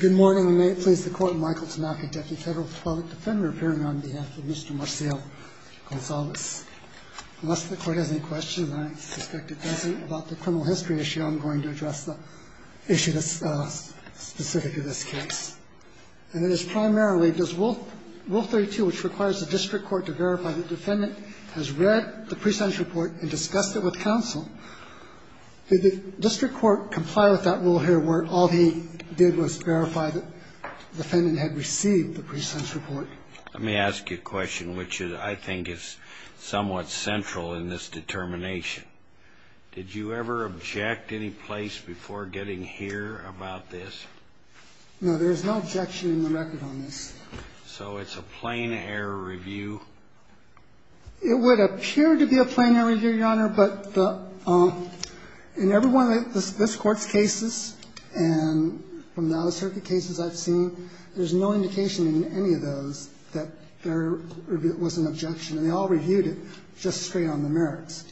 Good morning, and may it please the Court, Michael Tamaki, Deputy Federal Public Defender, appearing on behalf of Mr. Marcial-Gonzalez. Unless the Court has any questions, and I suspect it doesn't, about the criminal history issue, I'm going to address the issue that's specific to this case. And it is primarily, does Rule 32, which requires the district court to verify the defendant has read the pre-sentence report and discussed it with counsel, did the district court comply with that rule here, where all he did was verify that the defendant had received the pre-sentence report? Let me ask you a question, which I think is somewhat central in this determination. Did you ever object any place before getting here about this? No, there is no objection in the record on this. So it's a plain error review? It would appear to be a plain error review, Your Honor, but in every one of this Court's cases, and from the out-of-circuit cases I've seen, there's no indication in any of those that there was an objection, and they all reviewed it just straight on the merits.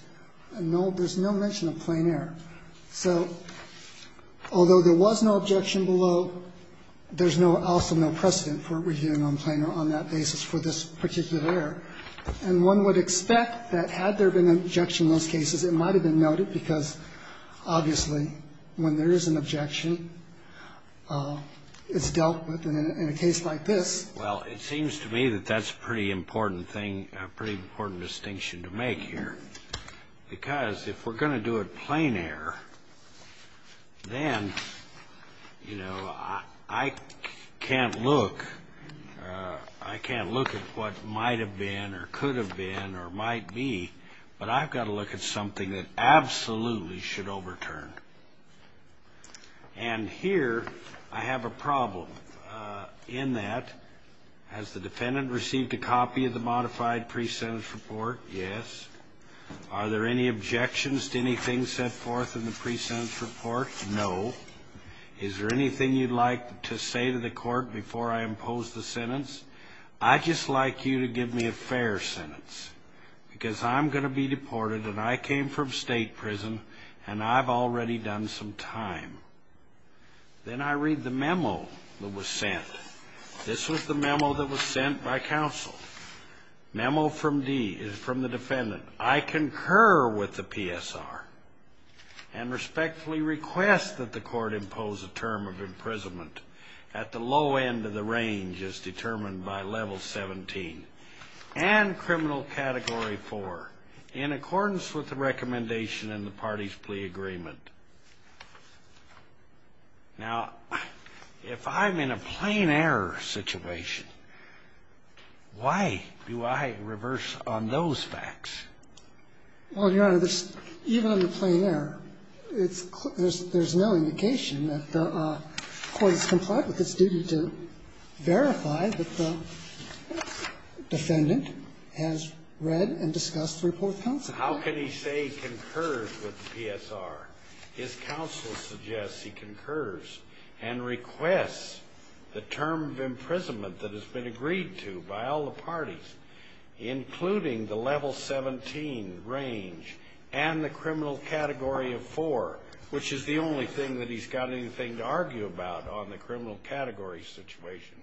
And there's no mention of plain error. So although there was no objection below, there's also no precedent for reviewing on plain error on that basis for this particular error. And one would expect that had there been an objection in those cases, it might have been noted, because obviously when there is an objection, it's dealt with. And in a case like this ---- Well, it seems to me that that's a pretty important thing, a pretty important distinction to make here, because if we're going to do a plain error, then, you know, I can't look. I can't look at what might have been or could have been or might be, but I've got to look at something that absolutely should overturn. And here, I have a problem in that. Has the defendant received a copy of the modified pre-sentence report? Yes. Are there any objections to anything set forth in the pre-sentence report? No. Is there anything you'd like to say to the court before I impose the sentence? I'd just like you to give me a fair sentence, because I'm going to be deported, and I came from state prison, and I've already done some time. Then I read the memo that was sent. This was the memo that was sent by counsel, memo from the defendant. I concur with the PSR and respectfully request that the court impose a term of imprisonment at the low end of the range as determined by Level 17 and Criminal Category 4 in accordance with the recommendation in the parties' plea agreement. Now, if I'm in a plain error situation, why do I reverse on those facts? Well, Your Honor, even on the plain error, there's no indication that the court has complied with its duty to verify that the defendant has read and discussed the report with counsel. How can he say he concurs with the PSR? His counsel suggests he concurs and requests the term of imprisonment that has been agreed to by all the parties, including the Level 17 range and the Criminal Category of 4, which is the only thing that he's got anything to argue about on the Criminal Category situation.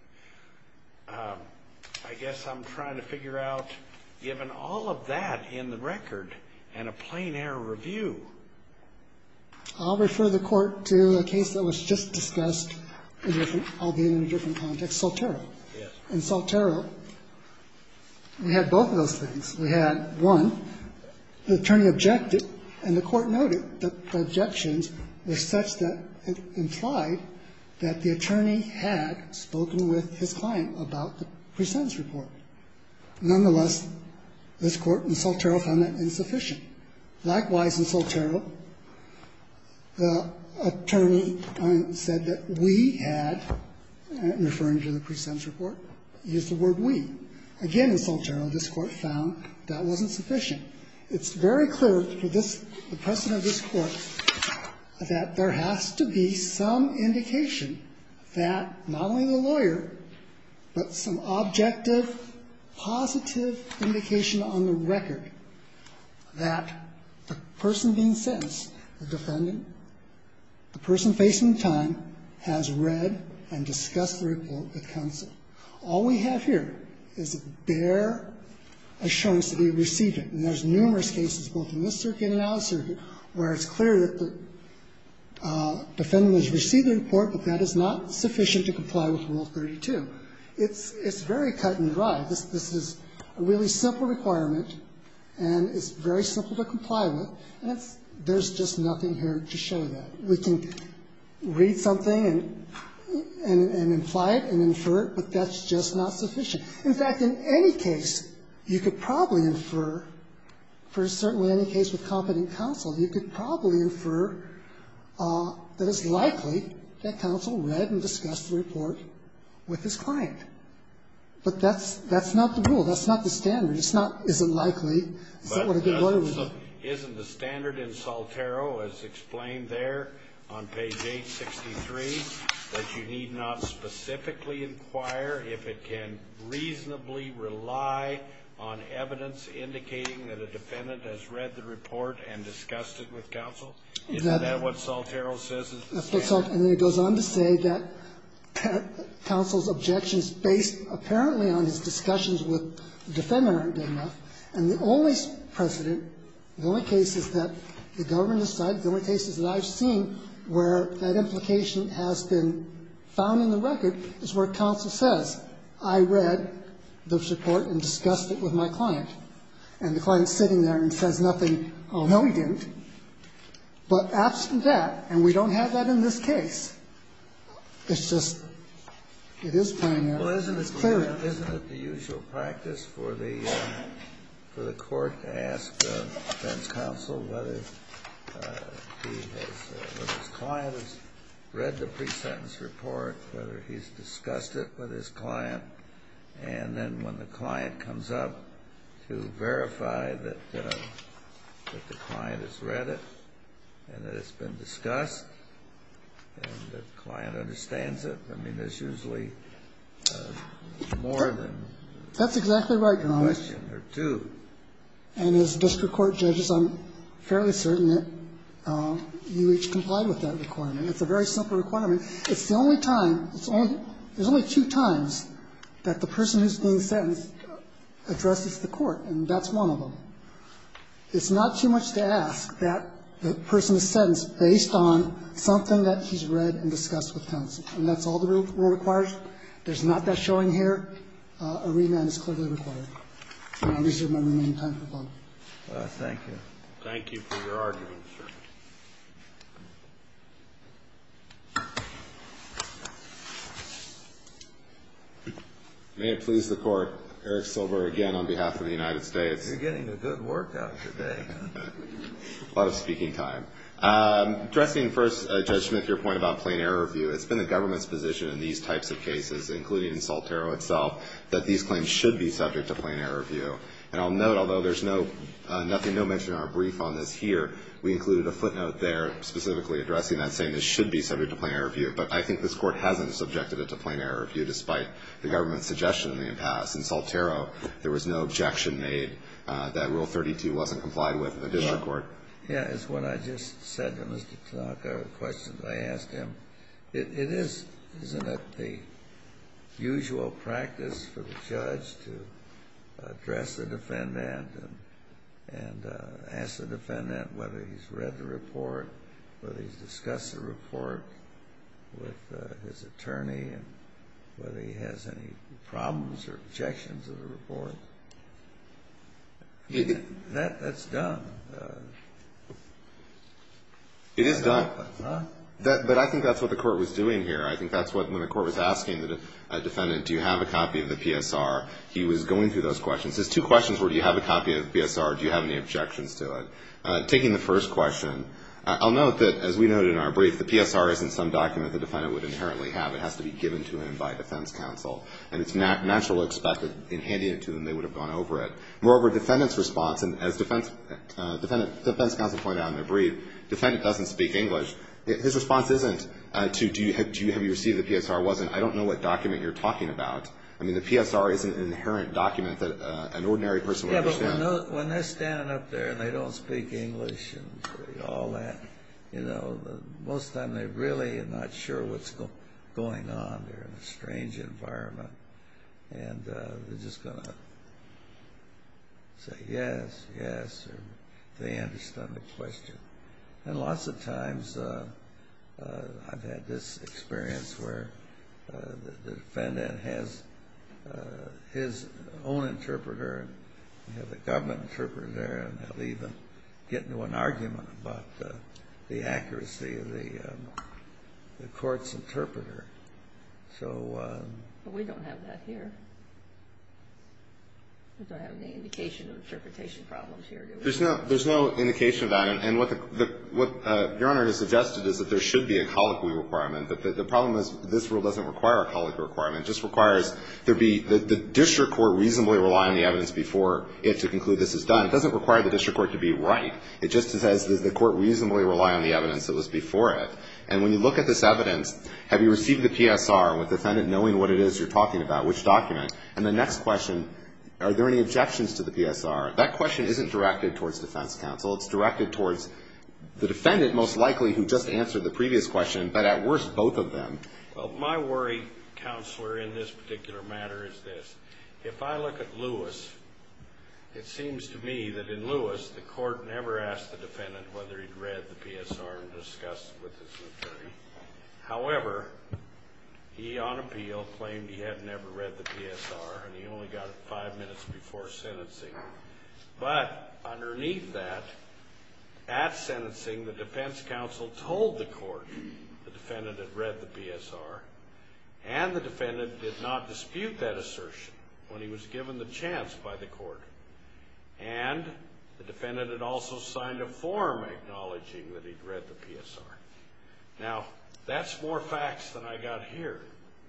I guess I'm trying to figure out, given all of that in the record and a plain error review. I'll refer the Court to a case that was just discussed, albeit in a different context, Saltero. Yes. In Saltero, we had both of those things. We had, one, the attorney objected, and the Court noted that the objections were such that it implied that the attorney had spoken with his client about the presentence report. Nonetheless, this Court in Saltero found that insufficient. Likewise, in Saltero, the attorney said that we had, referring to the presentence report, used the word we. Again, in Saltero, this Court found that wasn't sufficient. It's very clear for this, the precedent of this Court, that there has to be some indication that, not only the lawyer, but some objective, positive indication on the record that the person being sentenced, the defendant, the person facing time, has read and discussed the report with counsel. All we have here is a bare assurance that he received it. And there's numerous cases, both in this circuit and in our circuit, where it's clear that the defendant has received the report, but that is not sufficient to comply with Rule 32. It's very cut and dry. This is a really simple requirement, and it's very simple to comply with, and there's just nothing here to show that. We can read something and imply it and infer it, but that's just not sufficient. In fact, in any case, you could probably infer, for certainly any case with competent counsel, you could probably infer that it's likely that counsel read and discussed the report with his client. But that's not the rule. That's not the standard. It's not, is it likely, is that what a good lawyer would do? Isn't the standard in Saltero, as explained there on page 863, that you need not specifically inquire if it can reasonably rely on evidence indicating that a defendant has read the report and discussed it with counsel? Isn't that what Saltero says is the standard? And then it goes on to say that counsel's objections based apparently on his discussions with the defendant aren't good enough, and the only precedent, the only cases that the government has cited, the only cases that I've seen where that implication has been found in the record is where counsel says, I read the report and discussed it with my client, and the client is sitting there and says nothing. Oh, no, he didn't. But absent that, and we don't have that in this case, it's just, it is primary. Well, isn't it the usual practice for the court to ask the defense counsel whether he has, whether his client has read the pre-sentence report, whether he's discussed it with his client, and then when the client comes up to verify that the client has read it and that it's been discussed and the client understands it? I mean, there's usually more than one question or two. That's exactly right, Your Honor. And as district court judges, I'm fairly certain that you each comply with that requirement. It's a very simple requirement. It's the only time, it's only, there's only two times that the person who's being sentenced addresses the court, and that's one of them. It's not too much to ask that the person is sentenced based on something that he's read and discussed with counsel. And that's all the rule requires. There's not that showing here. A remand is clearly required. And I reserve my remaining time for comment. Thank you. Thank you for your argument, sir. May it please the Court. Eric Silber again on behalf of the United States. You're getting a good workout today. A lot of speaking time. Addressing first, Judge Schmidt, your point about plain error review, it's been the government's position in these types of cases, including in Saltero itself, that these claims should be subject to plain error review. And I'll note, although there's no mention in our brief on this here, we included a footnote there specifically addressing that, saying this should be subject to plain error review. But I think this Court hasn't subjected it to plain error review, despite the government's suggestion in the impasse. In Saltero, there was no objection made that Rule 32 wasn't complied with in the district court. Yeah, it's what I just said to Mr. Tanaka, the questions I asked him. It is, isn't it, the usual practice for the judge to address the defendant and ask the defendant whether he's read the report, whether he's discussed the report with his attorney, and whether he has any problems or objections of the report. That's dumb. It is dumb. But I think that's what the Court was doing here. I think that's what, when the Court was asking the defendant, do you have a copy of the PSR, he was going through those questions. His two questions were, do you have a copy of the PSR, do you have any objections to it. Taking the first question, I'll note that, as we noted in our brief, the PSR isn't some document the defendant would inherently have. It has to be given to him by defense counsel. And it's natural to expect that, in handing it to him, they would have gone over it. Moreover, the defendant's response, and as defense counsel pointed out in their brief, the defendant doesn't speak English. His response isn't to, do you have, have you received the PSR, wasn't, I don't know what document you're talking about. I mean, the PSR isn't an inherent document that an ordinary person would understand. Yeah, but when they're standing up there and they don't speak English and all that, you know, most of the time they're really not sure what's going on. They're in a strange environment. And they're just going to say, yes, yes, or they understand the question. And lots of times I've had this experience where the defendant has his own interpreter, you know, the government interpreter, and they'll even get into an argument about the accuracy of the courts interpreter. So we don't have that here. Do I have any indication of interpretation problems here? There's no indication of that. And what Your Honor has suggested is that there should be a colloquy requirement. But the problem is this rule doesn't require a colloquy requirement. It just requires there be, the district court reasonably rely on the evidence before it to conclude this is done. It doesn't require the district court to be right. It just says does the court reasonably rely on the evidence that was before it. And when you look at this evidence, have you received the PSR with the defendant knowing what it is you're talking about, which document? And the next question, are there any objections to the PSR? That question isn't directed towards defense counsel. It's directed towards the defendant most likely who just answered the previous question, but at worst both of them. Well, my worry, counselor, in this particular matter is this. If I look at Lewis, it seems to me that in Lewis the court never asked the defense attorney. However, he on appeal claimed he had never read the PSR and he only got it five minutes before sentencing. But underneath that, at sentencing the defense counsel told the court the defendant had read the PSR and the defendant did not dispute that assertion when he was given the chance by the court. And the defendant had also signed a form acknowledging that he'd read the PSR. Now, that's more facts than I got here.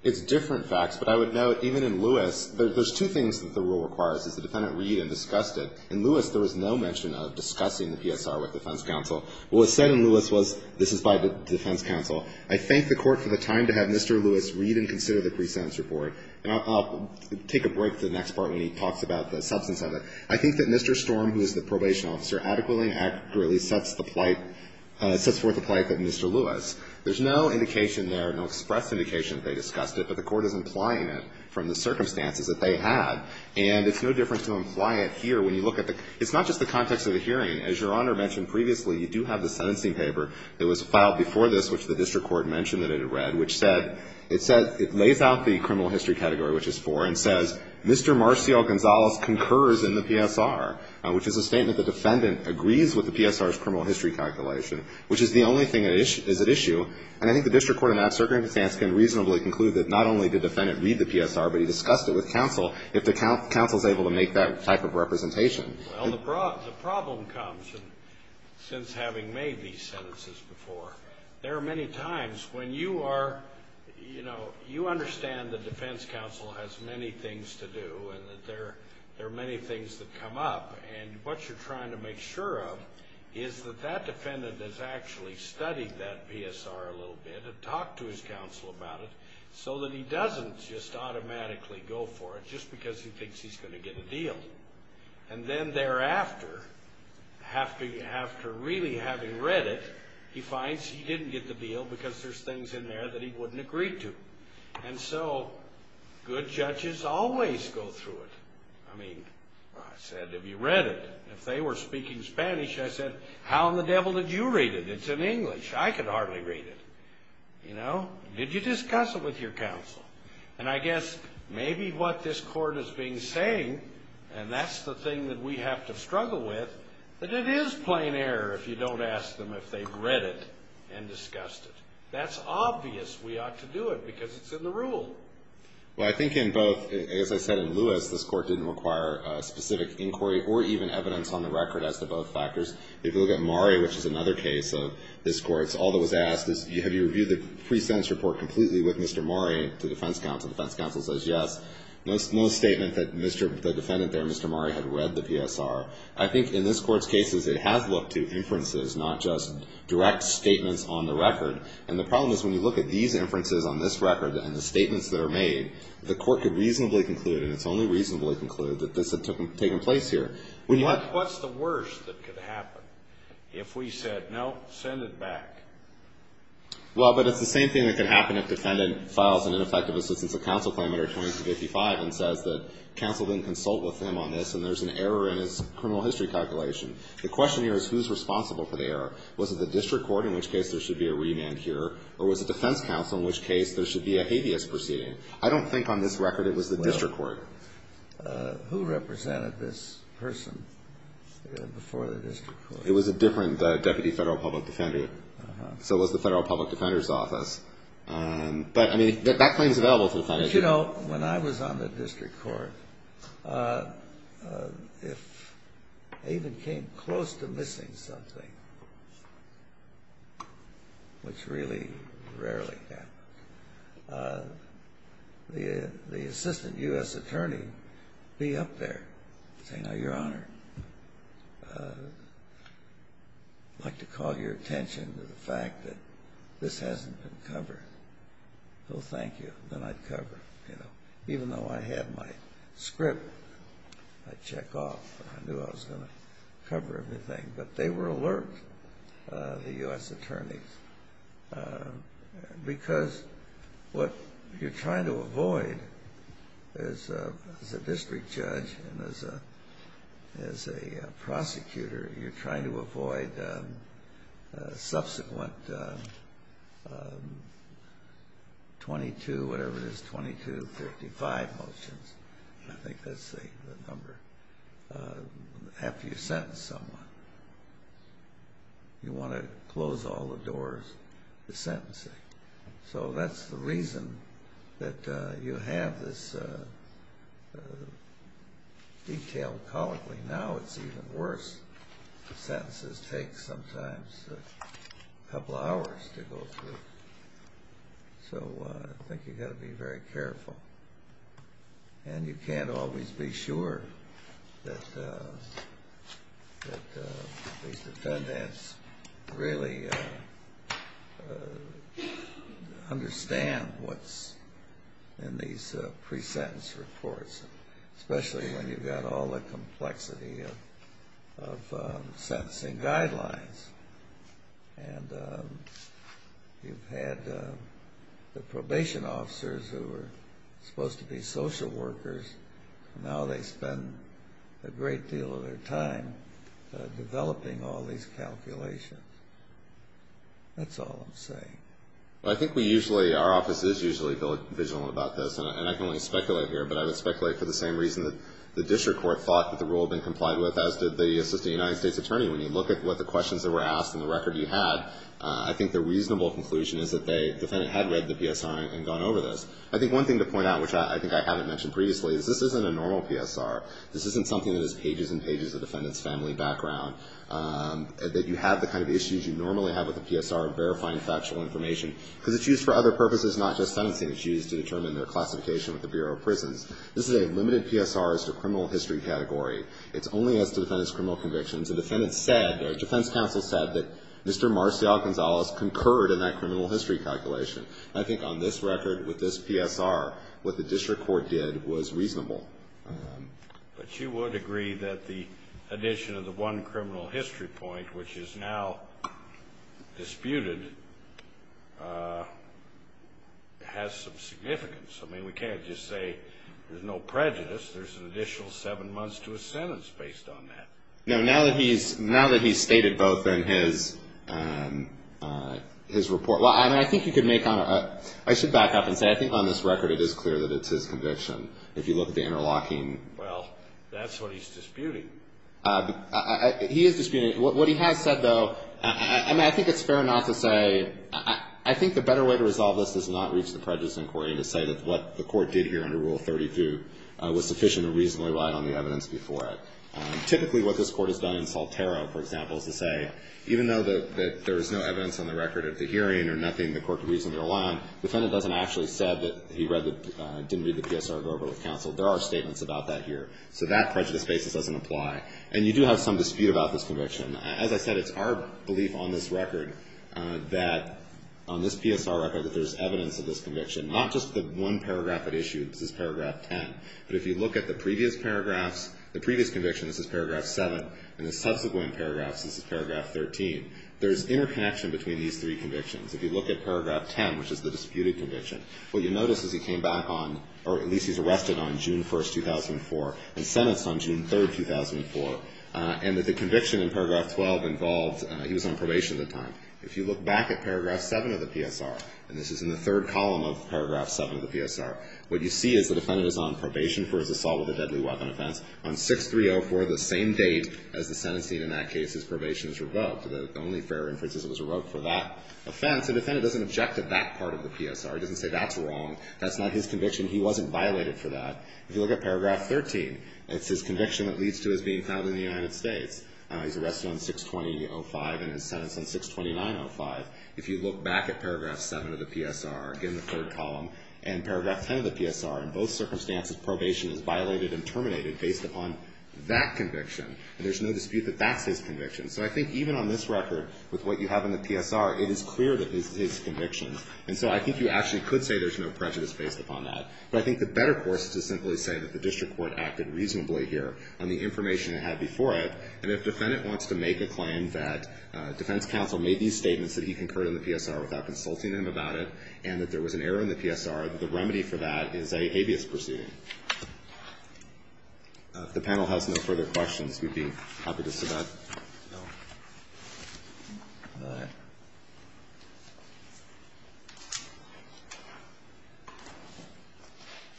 It's different facts, but I would note even in Lewis, there's two things that the rule requires, is the defendant read and discussed it. In Lewis, there was no mention of discussing the PSR with defense counsel. What was said in Lewis was this is by the defense counsel. I thank the court for the time to have Mr. Lewis read and consider the presence report. And I'll take a break to the next part when he talks about the substance of it. I think that Mr. Storm, who is the probation officer, adequately and accurately sets the plight, sets forth the plight of Mr. Lewis. There's no indication there, no express indication that they discussed it, but the court is implying it from the circumstances that they had. And it's no difference to imply it here when you look at the, it's not just the context of the hearing. As Your Honor mentioned previously, you do have the sentencing paper that was filed before this, which the district court mentioned that it had read, which said, it lays out the criminal history category, which is 4, and says, Mr. Marcio Gonzalez concurs in the PSR, which is a statement the defendant agrees with the PSR's criminal history calculation, which is the only thing that is at issue. And I think the district court in that circumstance can reasonably conclude that not only did the defendant read the PSR, but he discussed it with counsel if the counsel is able to make that type of representation. Well, the problem comes, since having made these sentences before, there are many times when you are, you know, you understand the defense counsel has many things to do and that there are many things that come up, and what you're trying to make sure of is that that defendant has actually studied that PSR a little bit and talked to his counsel about it so that he doesn't just automatically go for it just because he thinks he's going to get a deal. And then thereafter, after really having read it, he finds he didn't get the deal because there's things in there that he wouldn't agree to. And so good judges always go through it. I mean, I said, have you read it? If they were speaking Spanish, I said, how in the devil did you read it? It's in English. I could hardly read it. You know, did you discuss it with your counsel? And I guess maybe what this court is being saying, and that's the thing that we have to struggle with, that it is plain error if you don't ask them if they've read it and discussed it. That's obvious we ought to do it because it's in the rule. Well, I think in both, as I said in Lewis, this court didn't require specific inquiry or even evidence on the record as to both factors. If you look at Murray, which is another case of this court's, all that was asked is have you reviewed the pre-sentence report completely with Mr. Murray, the defense counsel. The defense counsel says yes. No statement that the defendant there, Mr. Murray, had read the PSR. I think in this court's cases it has looked to inferences, not just direct statements on the record. And the problem is when you look at these inferences on this record and the statements that are made, the court could reasonably conclude, and it's only reasonably conclude, that this had taken place here. What's the worst that could happen if we said, no, send it back? Well, but it's the same thing that could happen if the defendant files an ineffective assistance of counsel claim under 2255 and says that counsel didn't consult with him on this and there's an error in his criminal history calculation. The question here is who's responsible for the error. Was it the district court, in which case there should be a remand here, or was it defense counsel, in which case there should be a habeas proceeding? I don't think on this record it was the district court. Well, who represented this person before the district court? It was a different deputy federal public defender. So it was the federal public defender's office. But, I mean, that claim is available to the defendant. But, you know, when I was on the district court, if I even came close to missing something, which really rarely happens, the assistant U.S. attorney would be up there saying, oh, Your Honor, I'd like to call your attention to the fact that this hasn't been covered. Well, thank you. Then I'd cover, you know. Even though I had my script, I'd check off. I knew I was going to cover everything. But they were alert, the U.S. attorneys, because what you're trying to avoid as a district judge and as a prosecutor, you're trying to avoid subsequent 22, whatever it is, 2255 motions. I think that's the number. After you sentence someone, you want to close all the doors to sentencing. So that's the reason that you have this detailed colloquy. Now it's even worse. The sentences take sometimes a couple hours to go through. So I think you've got to be very careful. And you can't always be sure that these defendants really understand what's in these pre-sentence reports, especially when you've got all the complexity of sentencing guidelines. And you've had the probation officers who are supposed to be social workers, and now they spend a great deal of their time developing all these calculations. That's all I'm saying. Well, I think we usually, our office is usually very vigilant about this. And I can only speculate here, but I would speculate for the same reason that the district court thought that the rule had been complied with, as did the United States attorney. When you look at what the questions that were asked and the record you had, I think the reasonable conclusion is that the defendant had read the PSR and gone over this. I think one thing to point out, which I think I haven't mentioned previously, is this isn't a normal PSR. This isn't something that is pages and pages of defendant's family background, that you have the kind of issues you normally have with a PSR of verifying factual information. Because it's used for other purposes, not just sentencing issues, to determine their classification with the Bureau of Prisons. This is a limited PSR as to criminal history category. It's only as to defendant's criminal convictions. The defendant said, or defense counsel said, that Mr. Marcial Gonzalez concurred in that criminal history calculation. And I think on this record, with this PSR, what the district court did was reasonable. But you would agree that the addition of the one criminal history point, which is now disputed, has some significance. I mean, we can't just say there's no prejudice. There's an additional seven months to a sentence based on that. No, now that he's stated both in his report. I mean, I think you could make on a, I should back up and say, I think on this record it is clear that it's his conviction. If you look at the interlocking. Well, that's what he's disputing. He is disputing. I mean, what he has said, though, I mean, I think it's fair not to say, I think the better way to resolve this is not reach the prejudice in court and to say that what the court did here under Rule 32 was sufficient and reasonably right on the evidence before it. Typically what this court has done in Saltero, for example, is to say, even though there is no evidence on the record of the hearing or nothing, the court can reasonably rely on, the defendant hasn't actually said that he read the, didn't read the PSR to go over with counsel. There are statements about that here. So that prejudice basis doesn't apply. And you do have some dispute about this conviction. As I said, it's our belief on this record that, on this PSR record, that there's evidence of this conviction. Not just the one paragraph it issued. This is paragraph 10. But if you look at the previous paragraphs, the previous conviction, this is paragraph 7, and the subsequent paragraphs, this is paragraph 13. There's interconnection between these three convictions. If you look at paragraph 10, which is the disputed conviction, what you notice is he came back on, or at least he's arrested on June 1, 2004 and sentenced on June 3, 2004. And that the conviction in paragraph 12 involves, he was on probation at the time. If you look back at paragraph 7 of the PSR, and this is in the third column of paragraph 7 of the PSR, what you see is the defendant is on probation for his assault with a deadly weapon offense. On 6304, the same date as the sentencing in that case, his probation is revoked. The only fair inference is it was revoked for that offense. The defendant doesn't object to that part of the PSR. He doesn't say that's wrong. That's not his conviction. He wasn't violated for that. If you look at paragraph 13, it's his conviction that leads to his being found in the United States. He's arrested on 62005 and is sentenced on 62905. If you look back at paragraph 7 of the PSR, again, the third column, and paragraph 10 of the PSR, in both circumstances, probation is violated and terminated based upon that conviction. There's no dispute that that's his conviction. So I think even on this record, with what you have in the PSR, it is clear that this is his conviction. And so I think you actually could say there's no prejudice based upon that. But I think the better course is to simply say that the district court acted reasonably here on the information it had before it. And if a defendant wants to make a claim that defense counsel made these statements that he concurred on the PSR without consulting him about it, and that there was an error in the PSR, the remedy for that is an habeas proceeding. If the panel has no further questions, we'd be happy to submit. Go ahead.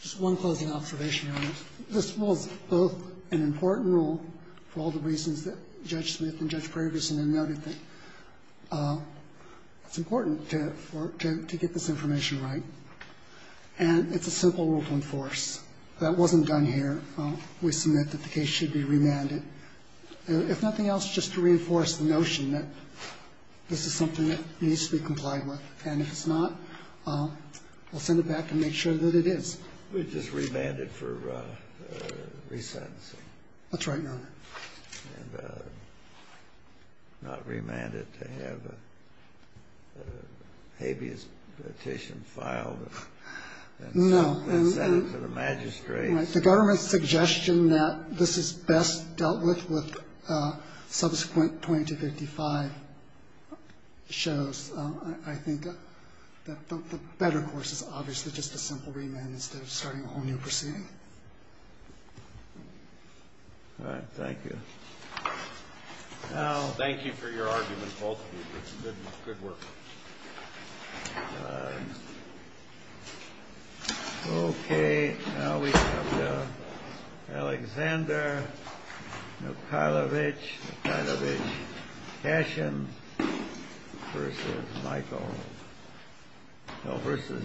Just one closing observation, Your Honor. This was both an important rule for all the reasons that Judge Smith and Judge Prager submitted and noted that it's important to get this information right. And it's a simple rule to enforce. That wasn't done here. We submit that the case should be remanded. If nothing else, just to reinforce the notion that this is something that needs to be complied with. And if it's not, we'll send it back and make sure that it is. It's just remanded for resentencing. That's right, Your Honor. And not remanded to have a habeas petition filed and sent to the magistrates. The government's suggestion that this is best dealt with with subsequent 20 to 55 shows, I think, that the better course is obviously just a simple remand instead of starting a whole new proceeding. All right. Thank you. Thank you for your argument, both of you. It's good work. All right. Okay. Now we have Alexander Mikhailovich Kashin versus the United States.